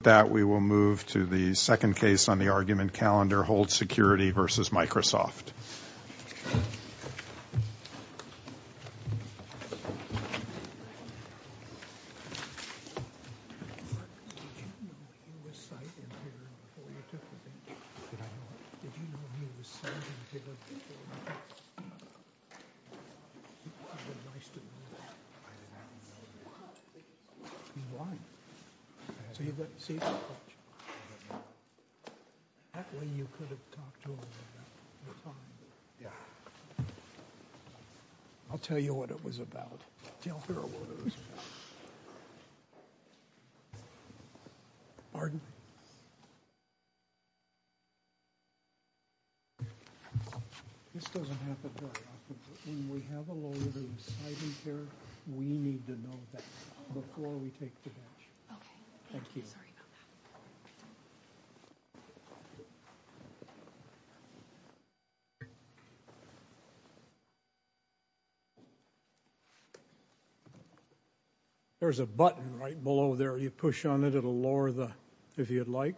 With that, we will move to the second case on the argument calendar, Hold Security v. Microsoft. I'll tell you what it was about, I'll tell her what it was about, pardon me, this doesn't happen very often, when we have a lawyer who's citing care, we need to know that before we take the bench. There's a button right below there, you push on it, it'll lower the, if you'd like,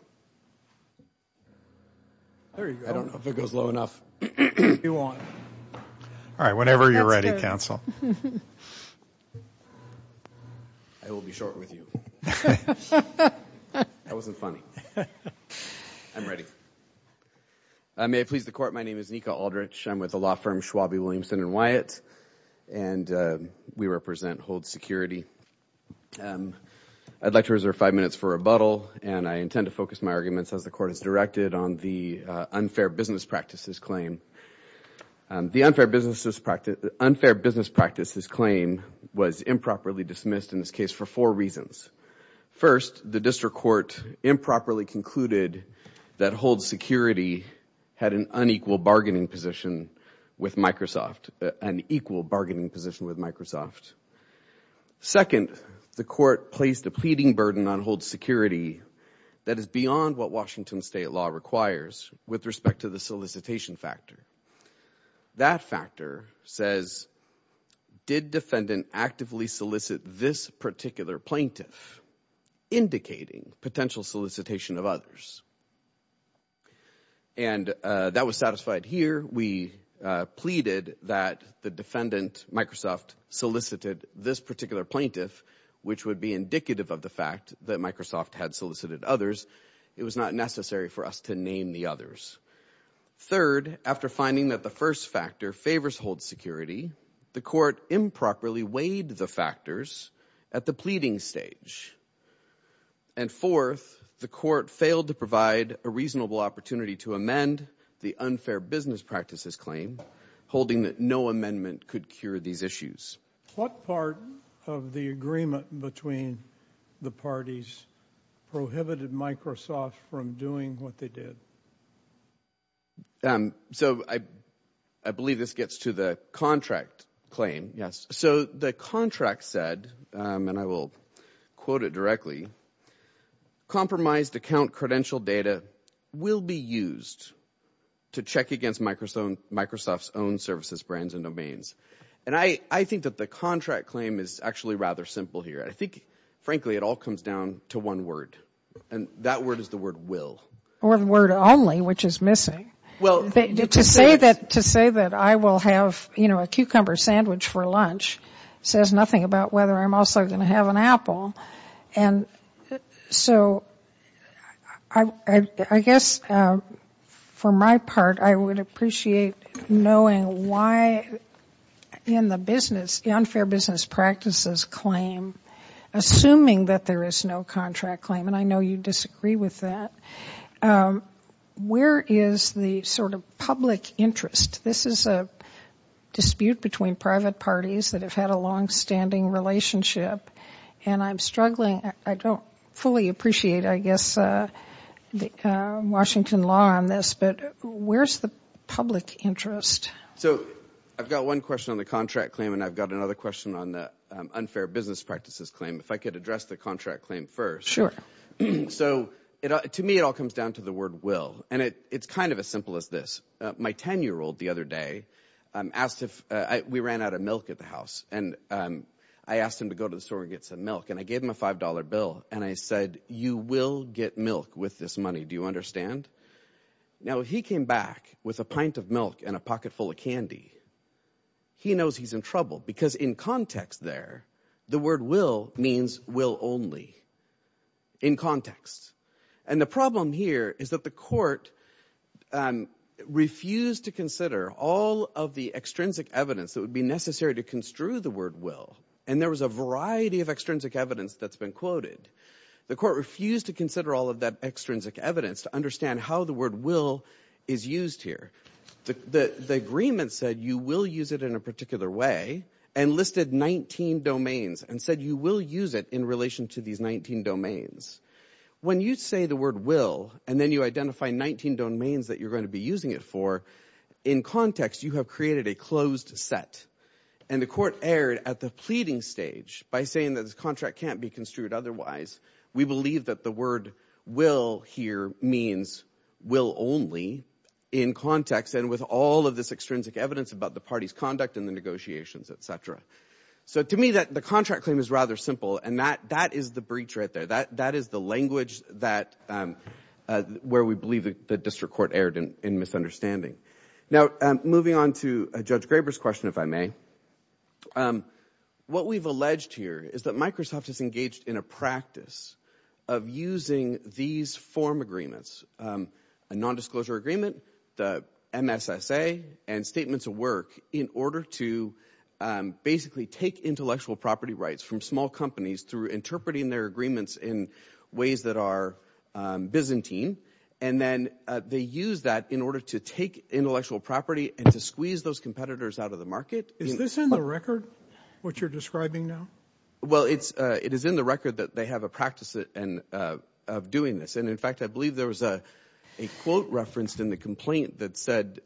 there you go. I don't know if it goes low enough. If you want. All right, whenever you're ready, counsel. I will be short with you. That wasn't funny. I'm ready. May I please the court, my name is Nika Aldrich, I'm with the law firm Schwalbe, Williamson & Wyatt, and we represent Hold Security. I'd like to reserve five minutes for rebuttal, and I intend to focus my arguments as the court has directed on the unfair business practices claim. The unfair business practices claim was improperly dismissed in this case for four reasons. First, the district court improperly concluded that Hold Security had an unequal bargaining position with Microsoft, an equal bargaining position with Microsoft. Second, the court placed a pleading burden on Hold Security that is beyond what Washington That factor says, did defendant actively solicit this particular plaintiff, indicating potential solicitation of others? And that was satisfied here. We pleaded that the defendant, Microsoft, solicited this particular plaintiff, which would be indicative of the fact that Microsoft had solicited others. It was not necessary for us to name the others. Third, after finding that the first factor favors Hold Security, the court improperly weighed the factors at the pleading stage. And fourth, the court failed to provide a reasonable opportunity to amend the unfair business practices claim, holding that no amendment could cure these issues. What part of the agreement between the parties prohibited Microsoft from doing what they did? So I believe this gets to the contract claim. So the contract said, and I will quote it directly, compromised account credential data will be used to check against Microsoft's own services, brands, and domains. And I think that the contract claim is actually rather simple here. I think, frankly, it all comes down to one word. And that word is the word will. Or the word only, which is missing. To say that I will have, you know, a cucumber sandwich for lunch says nothing about whether I'm also going to have an apple. And so I guess for my part, I would appreciate knowing why in the business, the unfair business practices claim, assuming that there is no contract claim, and I know you disagree with that, where is the sort of public interest? This is a dispute between private parties that have had a longstanding relationship. And I'm struggling, I don't fully appreciate, I guess, Washington law on this, but where is the public interest? So I've got one question on the contract claim and I've got another question on the unfair business practices claim. If I could address the contract claim first. So to me it all comes down to the word will. And it's kind of as simple as this. My 10-year-old the other day asked if, we ran out of milk at the house, and I asked him to go to the store and get some milk, and I gave him a $5 bill, and I said, you will get milk with this money, do you understand? Now, if he came back with a pint of milk and a pocketful of candy, he knows he's in trouble because in context there, the word will means will only. In context. And the problem here is that the court refused to consider all of the extrinsic evidence that would be necessary to construe the word will, and there was a variety of extrinsic evidence that's been quoted. The court refused to consider all of that extrinsic evidence to understand how the word will is used here. The agreement said you will use it in a particular way and listed 19 domains and said you will use it in relation to these 19 domains. When you say the word will and then you identify 19 domains that you're going to be using it for, in context, you have created a closed set. And the court erred at the pleading stage by saying that this contract can't be construed otherwise. We believe that the word will here means will only in context and with all of this extrinsic evidence about the party's conduct and the negotiations, et cetera. So to me, the contract claim is rather simple, and that is the breach right there. That is the language where we believe the district court erred in misunderstanding. Now, moving on to Judge Graber's question, if I may, what we've alleged here is that Microsoft is engaged in a practice of using these form agreements, a nondisclosure agreement, the MSSA, and statements of work in order to basically take intellectual property rights from small companies through interpreting their agreements in ways that are Byzantine. And then they use that in order to take intellectual property and to squeeze those competitors out of the market. Is this in the record, what you're describing now? Well, it is in the record that they have a practice of doing this. And in fact, I believe there was a quote referenced in the complaint that said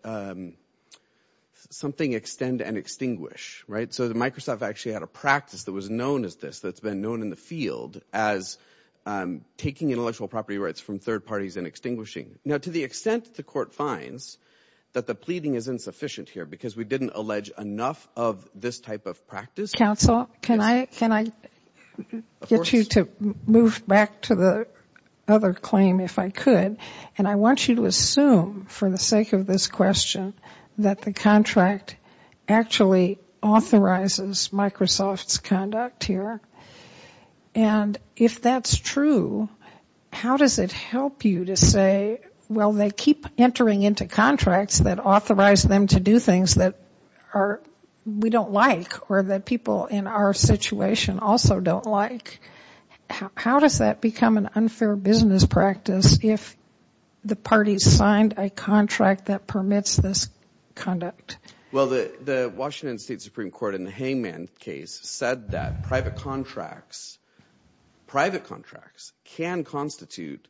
something extend and extinguish, right? So that Microsoft actually had a practice that was known as this, that's been known in the field as taking intellectual property rights from third parties and extinguishing. Now, to the extent the court finds that the pleading is insufficient here because we didn't allege enough of this type of practice. Counsel, can I get you to move back to the other claim if I could? And I want you to assume for the sake of this question that the contract actually authorizes Microsoft's conduct here. And if that's true, how does it help you to say, well, they keep entering into contracts that authorize them to do things that we don't like or that people in our situation also don't like. How does that become an unfair business practice if the parties signed a contract that permits this conduct? Well, the Washington State Supreme Court in the Hayman case said that private contracts can constitute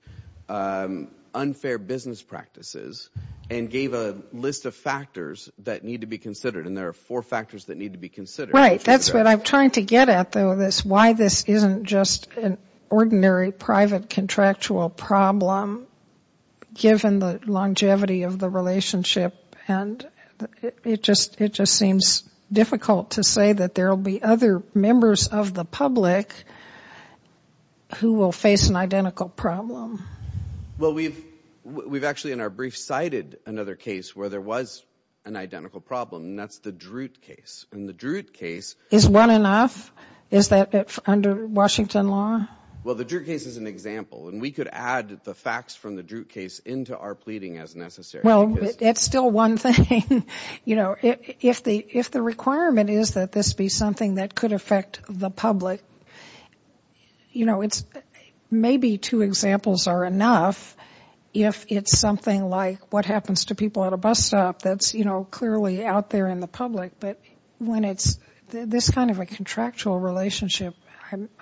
unfair business practices and gave a list of factors that need to be considered. And there are four factors that need to be considered. Right. That's what I'm trying to get at, though, is why this isn't just an ordinary private contractual problem given the longevity of the relationship. And it just seems difficult to say that there will be other members of the public who will face an identical problem. Well, we've actually in our brief cited another case where there was an identical problem, and that's the Drute case. And the Drute case Is one enough? Is that under Washington law? Well, the Drute case is an example, and we could add the facts from the Drute case into our pleading as necessary. Well, it's still one thing. You know, if the requirement is that this be something that could affect the public, you know, maybe two examples are enough if it's something like what happens to people at a bus stop that's, you know, clearly out there in the public. But when it's this kind of a contractual relationship,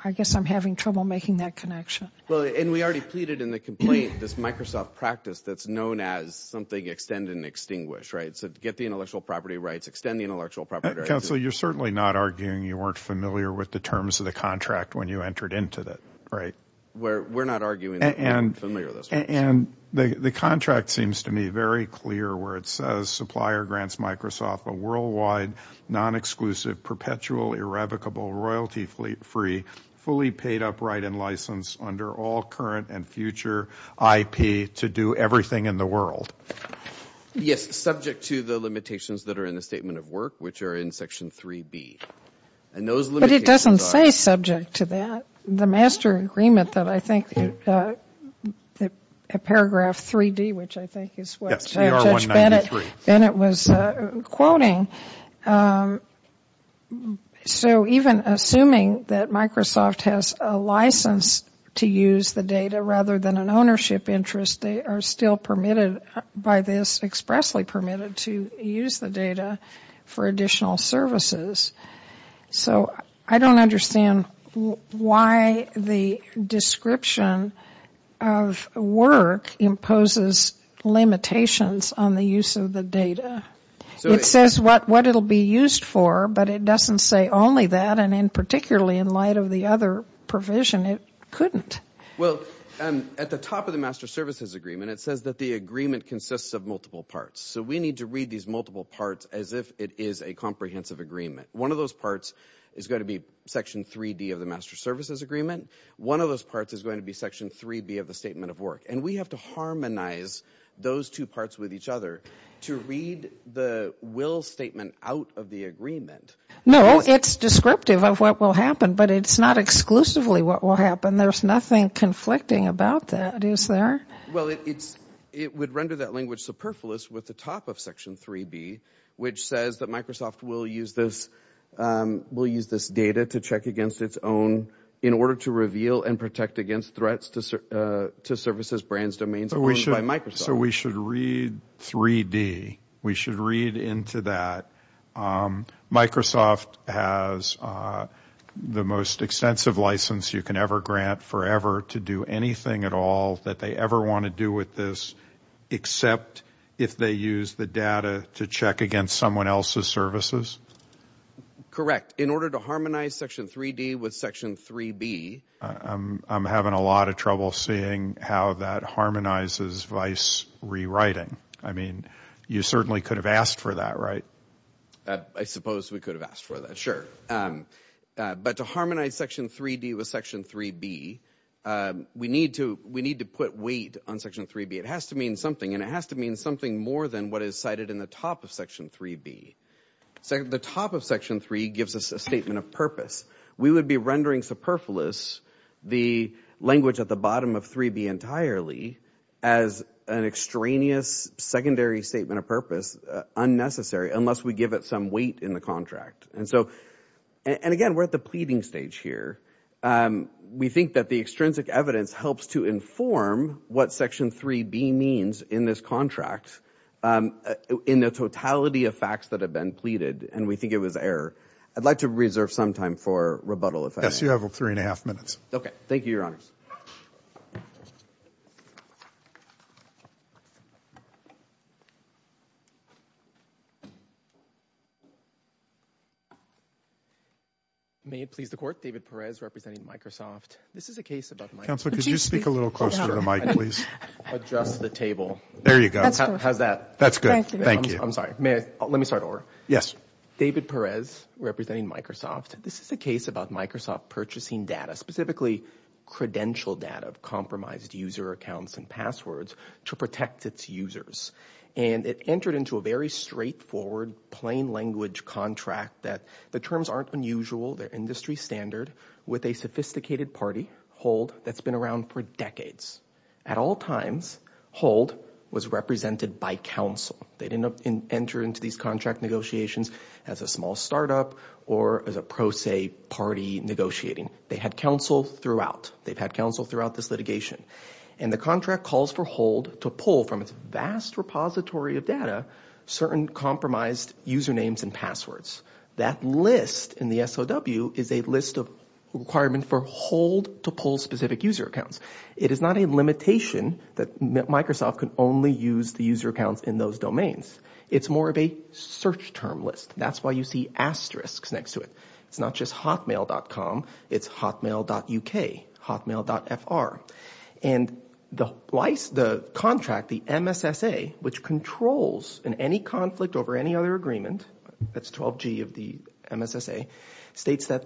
I guess I'm having trouble making that connection. Well, and we already pleaded in the complaint this Microsoft practice that's known as something extend and extinguish, right? So get the intellectual property rights, extend the intellectual property rights. Counsel, you're certainly not arguing you weren't familiar with the terms of the contract when you entered into it, right? We're not arguing that we weren't familiar with those terms. And the contract seems to me very clear where it says supplier grants Microsoft a worldwide non-exclusive, perpetual, irrevocable, royalty-free, fully paid-up, write-in license under all current and future IP to do everything in the world. Yes, subject to the limitations that are in the Statement of Work, which are in Section 3B. But it doesn't say subject to that. The master agreement that I think paragraph 3D, which I think is what Judge Bennett was quoting, so even assuming that Microsoft has a license to use the data rather than an ownership interest, they are still permitted by this, expressly permitted to use the data for additional services. So I don't understand why the description of work imposes limitations on the use of the data. It says what it will be used for, but it doesn't say only that. And particularly in light of the other provision, it couldn't. Well, at the top of the master services agreement, it says that the agreement consists of multiple parts. So we need to read these multiple parts as if it is a comprehensive agreement. One of those parts is going to be Section 3D of the master services agreement. One of those parts is going to be Section 3B of the Statement of Work. And we have to harmonize those two parts with each other to read the will statement out of the agreement. No, it's descriptive of what will happen, but it's not exclusively what will happen. There's nothing conflicting about that, is there? Well, it would render that language superfluous with the top of Section 3B, which says that Microsoft will use this data to check against its own in order to reveal and protect against threats to services, brands, domains owned by Microsoft. So we should read 3D. We should read into that. Microsoft has the most extensive license you can ever grant forever to do anything at all that they ever want to do with this except if they use the data to check against someone else's services? Correct. In order to harmonize Section 3D with Section 3B. I'm having a lot of trouble seeing how that harmonizes vice rewriting. I mean, you certainly could have asked for that, right? I suppose we could have asked for that, sure. But to harmonize Section 3D with Section 3B, we need to put weight on Section 3B. It has to mean something, and it has to mean something more than what is cited in the top of Section 3B. The top of Section 3 gives us a statement of purpose. We would be rendering superfluous the language at the bottom of 3B entirely as an extraneous secondary statement of purpose, unnecessary, unless we give it some weight in the contract. And again, we're at the pleading stage here. We think that the extrinsic evidence helps to inform what Section 3B means in this contract in the totality of facts that have been pleaded, and we think it was error. I'd like to reserve some time for rebuttal if I may. Yes, you have three and a half minutes. Okay. Thank you, Your Honors. May it please the Court, David Perez representing Microsoft. This is a case about Microsoft. Counselor, could you speak a little closer to the mic, please? Adjust the table. There you go. How's that? That's good. Thank you. I'm sorry. Let me start over. Yes. David Perez representing Microsoft. This is a case about Microsoft purchasing data, specifically credential data of compromised user accounts and passwords to protect its users. And it entered into a very straightforward, plain-language contract that the terms aren't unusual, they're industry standard, with a sophisticated party, Hold, that's been around for decades. At all times, Hold was represented by counsel. They didn't enter into these contract negotiations as a small startup or as a pro se party negotiating. They had counsel throughout. They've had counsel throughout this litigation. And the contract calls for Hold to pull from its vast repository of data certain compromised usernames and passwords. That list in the SOW is a list of requirements for Hold to pull specific user accounts. It is not a limitation that Microsoft can only use the user accounts in those domains. It's more of a search term list. That's why you see asterisks next to it. It's not just hotmail.com, it's hotmail.uk, hotmail.fr. And the contract, the MSSA, which controls in any conflict over any other agreement, that's 12G of the MSSA, states that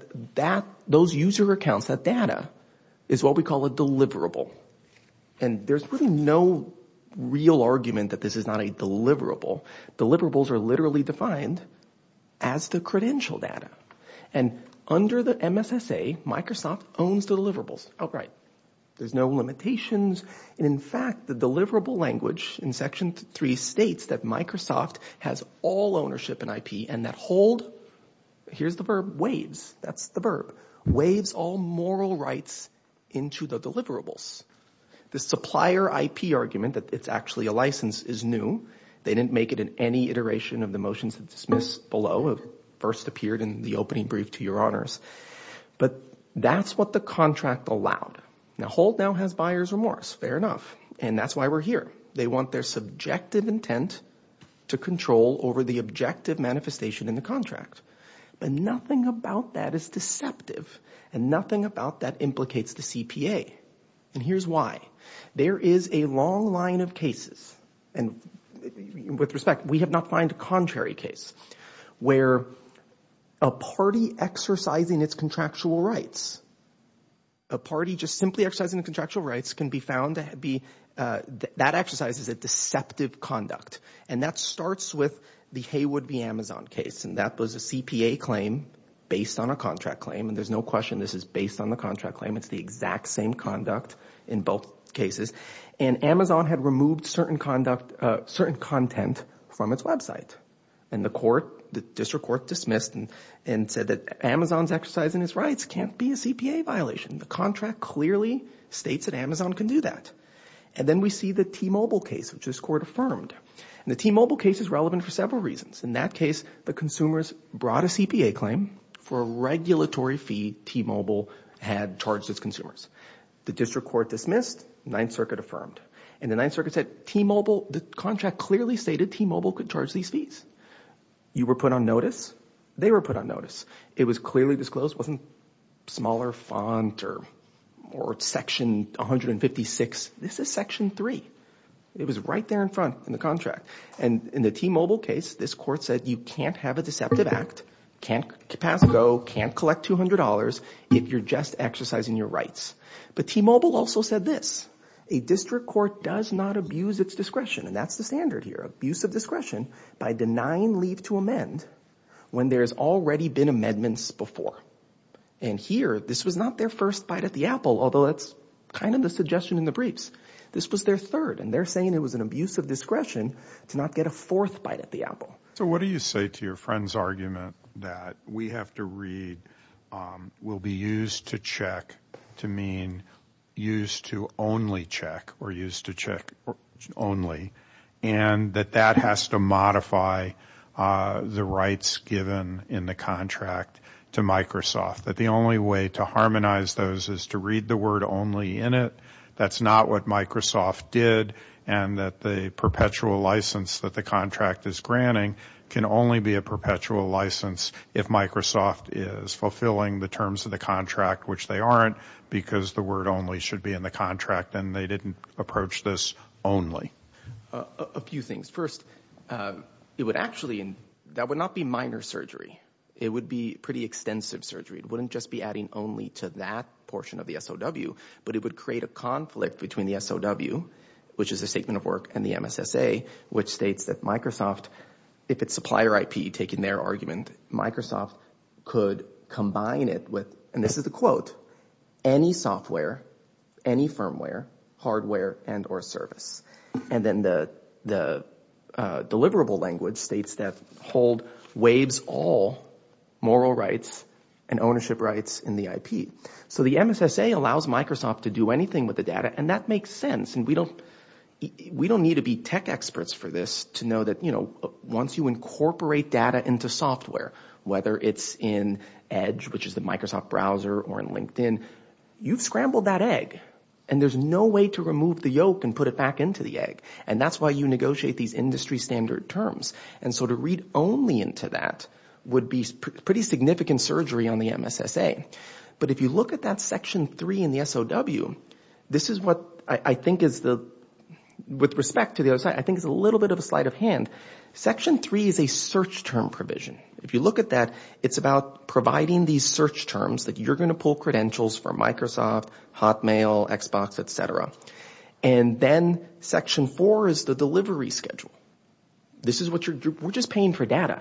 those user accounts, that data, is what we call a deliverable. And there's really no real argument that this is not a deliverable. Deliverables are literally defined as the credential data. And under the MSSA, Microsoft owns deliverables. All right. There's no limitations. In fact, the deliverable language in Section 3 states that Microsoft has all ownership in IP and that Hold, here's the verb, waves, that's the verb, waves all moral rights into the deliverables. The supplier IP argument that it's actually a license is new. They didn't make it in any iteration of the motions dismissed below. It first appeared in the opening brief to your honors. But that's what the contract allowed. Now, Hold now has buyer's remorse. Fair enough. And that's why we're here. They want their subjective intent to control over the objective manifestation in the contract. But nothing about that is deceptive, and nothing about that implicates the CPA. And here's why. There is a long line of cases, and with respect, we have not found a contrary case, where a party exercising its contractual rights, a party just simply exercising the contractual rights, can be found to be – that exercise is a deceptive conduct. And that starts with the Haywood v. Amazon case. And that was a CPA claim based on a contract claim. And there's no question this is based on the contract claim. It's the exact same conduct in both cases. And Amazon had removed certain content from its website. And the court, the district court, dismissed and said that Amazon's exercising its rights can't be a CPA violation. The contract clearly states that Amazon can do that. And then we see the T-Mobile case, which this court affirmed. And the T-Mobile case is relevant for several reasons. In that case, the consumers brought a CPA claim for a regulatory fee T-Mobile had charged its consumers. The district court dismissed. Ninth Circuit affirmed. And the Ninth Circuit said T-Mobile – the contract clearly stated T-Mobile could charge these fees. You were put on notice. They were put on notice. It was clearly disclosed. It wasn't smaller font or section 156. This is section 3. It was right there in front in the contract. And in the T-Mobile case, this court said you can't have a deceptive act, can't pass a bill, can't collect $200 if you're just exercising your rights. But T-Mobile also said this. A district court does not abuse its discretion. And that's the standard here. Abuse of discretion by denying leave to amend when there's already been amendments before. And here, this was not their first bite at the apple, although that's kind of the suggestion in the briefs. This was their third. And they're saying it was an abuse of discretion to not get a fourth bite at the apple. So what do you say to your friend's argument that we have to read will be used to check to mean used to only check or used to check only, and that that has to modify the rights given in the contract to Microsoft, that the only way to harmonize those is to read the word only in it? That's not what Microsoft did, and that the perpetual license that the contract is granting can only be a perpetual license if Microsoft is fulfilling the terms of the contract, which they aren't, because the word only should be in the contract. And they didn't approach this only. A few things. First, it would actually be minor surgery. It would be pretty extensive surgery. It wouldn't just be adding only to that portion of the SOW, but it would create a conflict between the SOW, which is a statement of work, and the MSSA, which states that Microsoft, if it's supplier IP taking their argument, Microsoft could combine it with, and this is a quote, any software, any firmware, hardware, and or service. And then the deliverable language states that hold waives all moral rights and ownership rights in the IP. So the MSSA allows Microsoft to do anything with the data, and that makes sense, and we don't need to be tech experts for this to know that once you incorporate data into software, whether it's in Edge, which is the Microsoft browser, or in LinkedIn, you've scrambled that egg, and there's no way to remove the yolk and put it back into the egg. And that's why you negotiate these industry standard terms. And so to read only into that would be pretty significant surgery on the MSSA. But if you look at that Section 3 in the SOW, this is what I think is the, with respect to the other side, I think it's a little bit of a sleight of hand. Section 3 is a search term provision. If you look at that, it's about providing these search terms that you're going to pull credentials from Microsoft, Hotmail, Xbox, et cetera. And then Section 4 is the delivery schedule. This is what you're, we're just paying for data.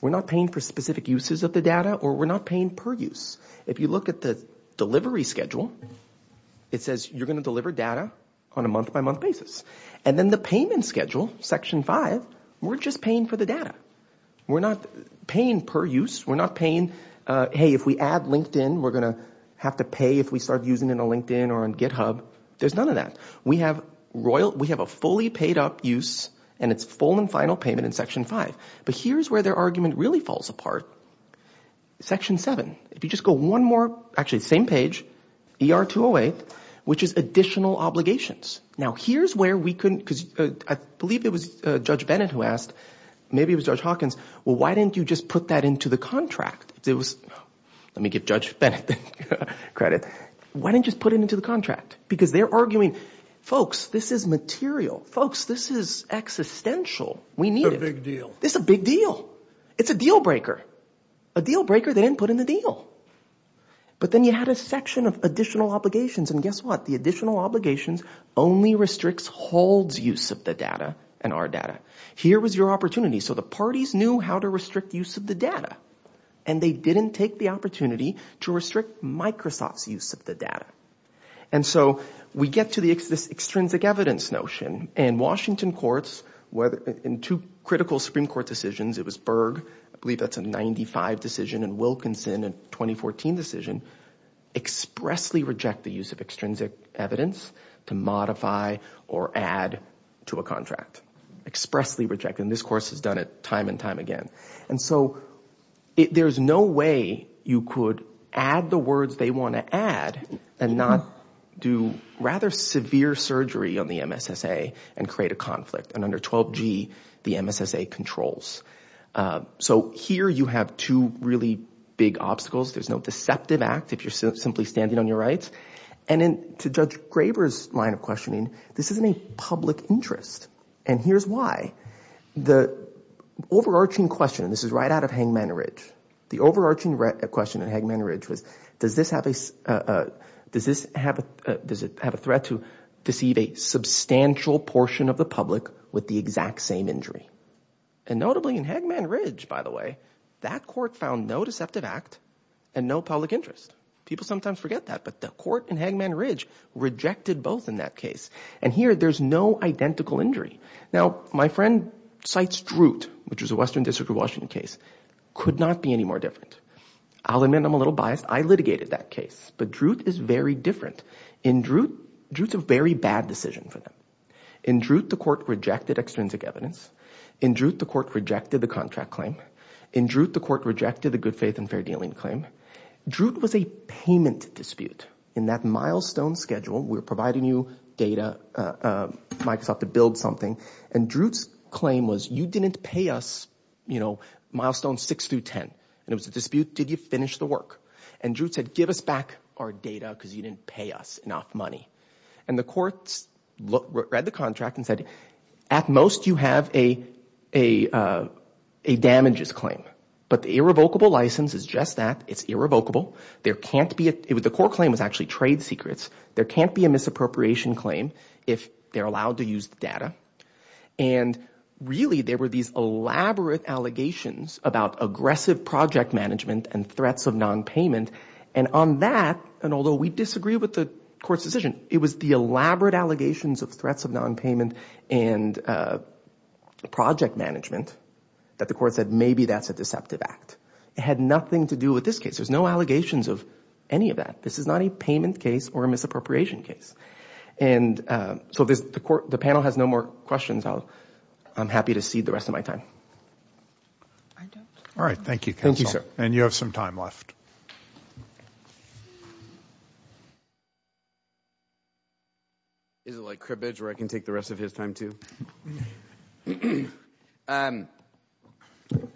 We're not paying for specific uses of the data, or we're not paying per use. If you look at the delivery schedule, it says you're going to deliver data on a month-by-month basis. And then the payment schedule, Section 5, we're just paying for the data. We're not paying per use. We're not paying, hey, if we add LinkedIn, we're going to have to pay if we start using it on LinkedIn or on GitHub. There's none of that. We have a fully paid-up use, and it's full and final payment in Section 5. But here's where their argument really falls apart. Section 7, if you just go one more, actually, same page, ER-208, which is additional obligations. Now, here's where we couldn't, because I believe it was Judge Bennett who asked, maybe it was Judge Hawkins, well, why didn't you just put that into the contract? Let me give Judge Bennett credit. Why didn't you just put it into the contract? Because they're arguing, folks, this is material. Folks, this is existential. We need it. It's a big deal. It's a big deal. It's a deal breaker. A deal breaker, they didn't put in the deal. But then you had a section of additional obligations, and guess what? The additional obligations only restricts holds use of the data and our data. Here was your opportunity. So the parties knew how to restrict use of the data, and they didn't take the opportunity to restrict Microsoft's use of the data. And so we get to this extrinsic evidence notion, and Washington courts, in two critical Supreme Court decisions, it was Berg, I believe that's a 95 decision, and Wilkinson, a 2014 decision, expressly reject the use of extrinsic evidence to modify or add to a contract, expressly reject it. And this course has done it time and time again. And so there's no way you could add the words they want to add and not do rather severe surgery on the MSSA and create a conflict. And under 12G, the MSSA controls. So here you have two really big obstacles. There's no deceptive act if you're simply standing on your rights. And to Judge Graber's line of questioning, this isn't a public interest, and here's why. The overarching question, and this is right out of Hengman Ridge, the overarching question at Hengman Ridge was does this have a threat to deceive a substantial portion of the public with the exact same injury? And notably in Hengman Ridge, by the way, that court found no deceptive act and no public interest. People sometimes forget that, but the court in Hengman Ridge rejected both in that case. And here there's no identical injury. Now, my friend cites Drute, which was a Western District of Washington case, could not be any more different. I'll admit I'm a little biased. I litigated that case. But Drute is very different. In Drute, Drute's a very bad decision for them. In Drute, the court rejected extrinsic evidence. In Drute, the court rejected the contract claim. In Drute, the court rejected the good faith and fair dealing claim. Drute was a payment dispute. In that milestone schedule, we're providing you data, Microsoft, to build something. And Drute's claim was you didn't pay us milestones six through ten. And it was a dispute, did you finish the work? And Drute said give us back our data because you didn't pay us enough money. And the courts read the contract and said at most you have a damages claim. But the irrevocable license is just that. It's irrevocable. The court claim was actually trade secrets. There can't be a misappropriation claim if they're allowed to use the data. And really there were these elaborate allegations about aggressive project management and threats of nonpayment. And on that, and although we disagree with the court's decision, it was the elaborate allegations of threats of nonpayment and project management that the court said maybe that's a deceptive act. It had nothing to do with this case. There's no allegations of any of that. This is not a payment case or a misappropriation case. And so the panel has no more questions. I'm happy to cede the rest of my time. All right. Thank you, counsel. And you have some time left. Is it like cribbage where I can take the rest of his time too?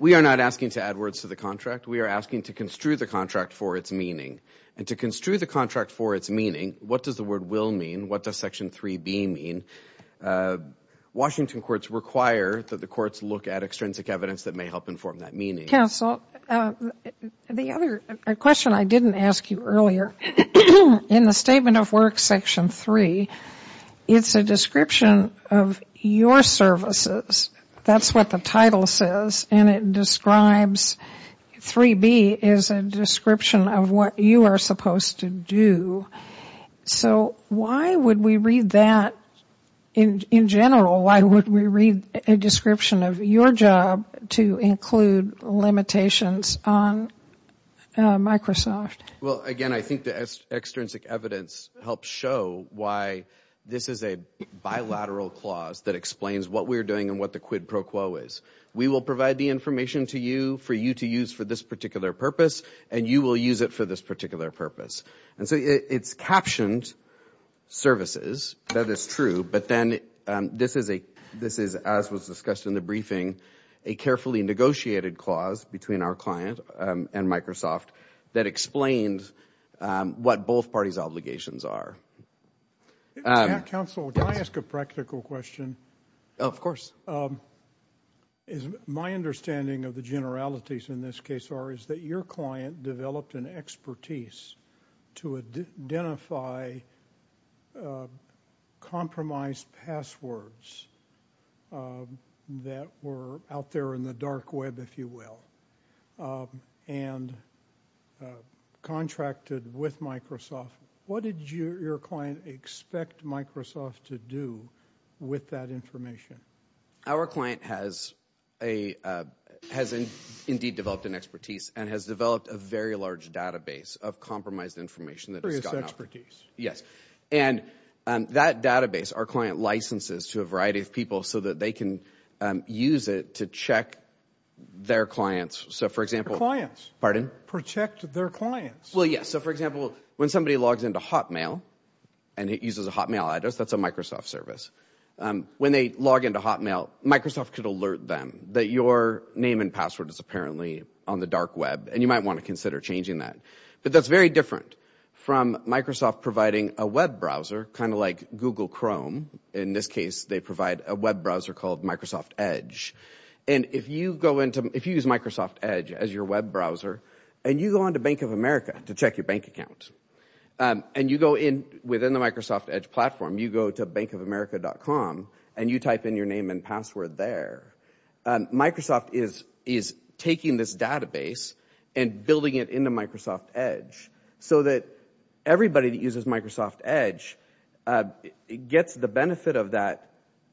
We are not asking to add words to the contract. We are asking to construe the contract for its meaning. And to construe the contract for its meaning, what does the word will mean? What does Section 3B mean? Washington courts require that the courts look at extrinsic evidence that may help inform that meaning. Counsel, the other question I didn't ask you earlier, in the Statement of Works Section 3, it's a description of your services. That's what the title says. And it describes 3B as a description of what you are supposed to do. So why would we read that in general? Why would we read a description of your job to include limitations on Microsoft? Well, again, I think the extrinsic evidence helps show why this is a bilateral clause that explains what we're doing and what the quid pro quo is. We will provide the information to you for you to use for this particular purpose, and you will use it for this particular purpose. And so it's captioned services. That is true. But then this is, as was discussed in the briefing, a carefully negotiated clause between our client and Microsoft that explains what both parties' obligations are. Counsel, can I ask a practical question? Of course. My understanding of the generalities in this case are that your client developed an expertise to identify compromised passwords that were out there in the dark web, if you will, and contracted with Microsoft. What did your client expect Microsoft to do with that information? Our client has indeed developed an expertise and has developed a very large database of compromised information that has gotten out. Yes. And that database our client licenses to a variety of people so that they can use it to check their clients. Your clients? Pardon? Protect their clients. Well, yes. So, for example, when somebody logs into Hotmail and it uses a Hotmail address, that's a Microsoft service. When they log into Hotmail, Microsoft could alert them that your name and password is apparently on the dark web, and you might want to consider changing that. But that's very different from Microsoft providing a web browser, kind of like Google Chrome. In this case, they provide a web browser called Microsoft Edge. And if you use Microsoft Edge as your web browser and you go on to Bank of America to check your bank account, and you go in within the Microsoft Edge platform, you go to bankofamerica.com, and you type in your name and password there, Microsoft is taking this database and building it into Microsoft Edge so that everybody that uses Microsoft Edge gets the benefit of that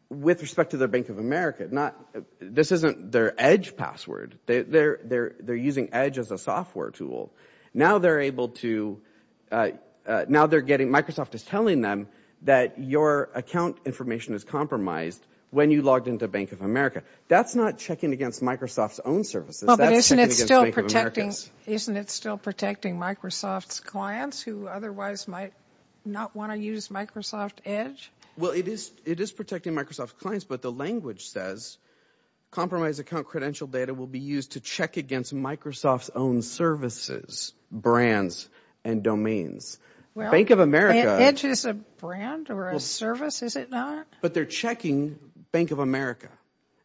with respect to their Bank of America. This isn't their Edge password. They're using Edge as a software tool. Now they're able to – now they're getting – Microsoft is telling them that your account information is compromised when you logged into Bank of America. That's not checking against Microsoft's own services. That's checking against Bank of America's. Well, but isn't it still protecting Microsoft's clients who otherwise might not want to use Microsoft Edge? Well, it is protecting Microsoft's clients, but the language says compromised account credential data will be used to check against Microsoft's own services, brands, and domains. Bank of America – Edge is a brand or a service, is it not? But they're checking Bank of America.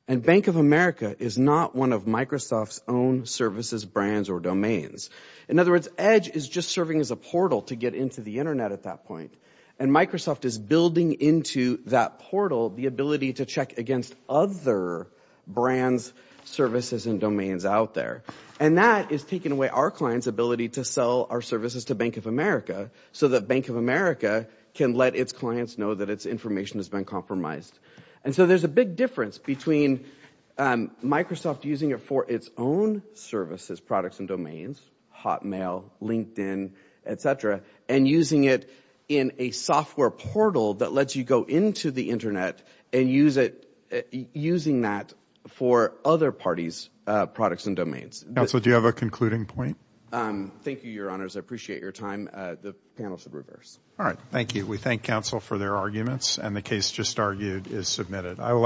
And Bank of America is not one of Microsoft's own services, brands, or domains. In other words, Edge is just serving as a portal to get into the internet at that point. And Microsoft is building into that portal the ability to check against other brands, services, and domains out there. And that is taking away our clients' ability to sell our services to Bank of America so that Bank of America can let its clients know that its information has been compromised. And so there's a big difference between Microsoft using it for its own services, products and domains, Hotmail, LinkedIn, et cetera, and using it in a software portal that lets you go into the internet and using that for other parties' products and domains. Counsel, do you have a concluding point? Thank you, Your Honors. I appreciate your time. The panel should reverse. All right. Thank you. We thank counsel for their arguments, and the case just argued is submitted.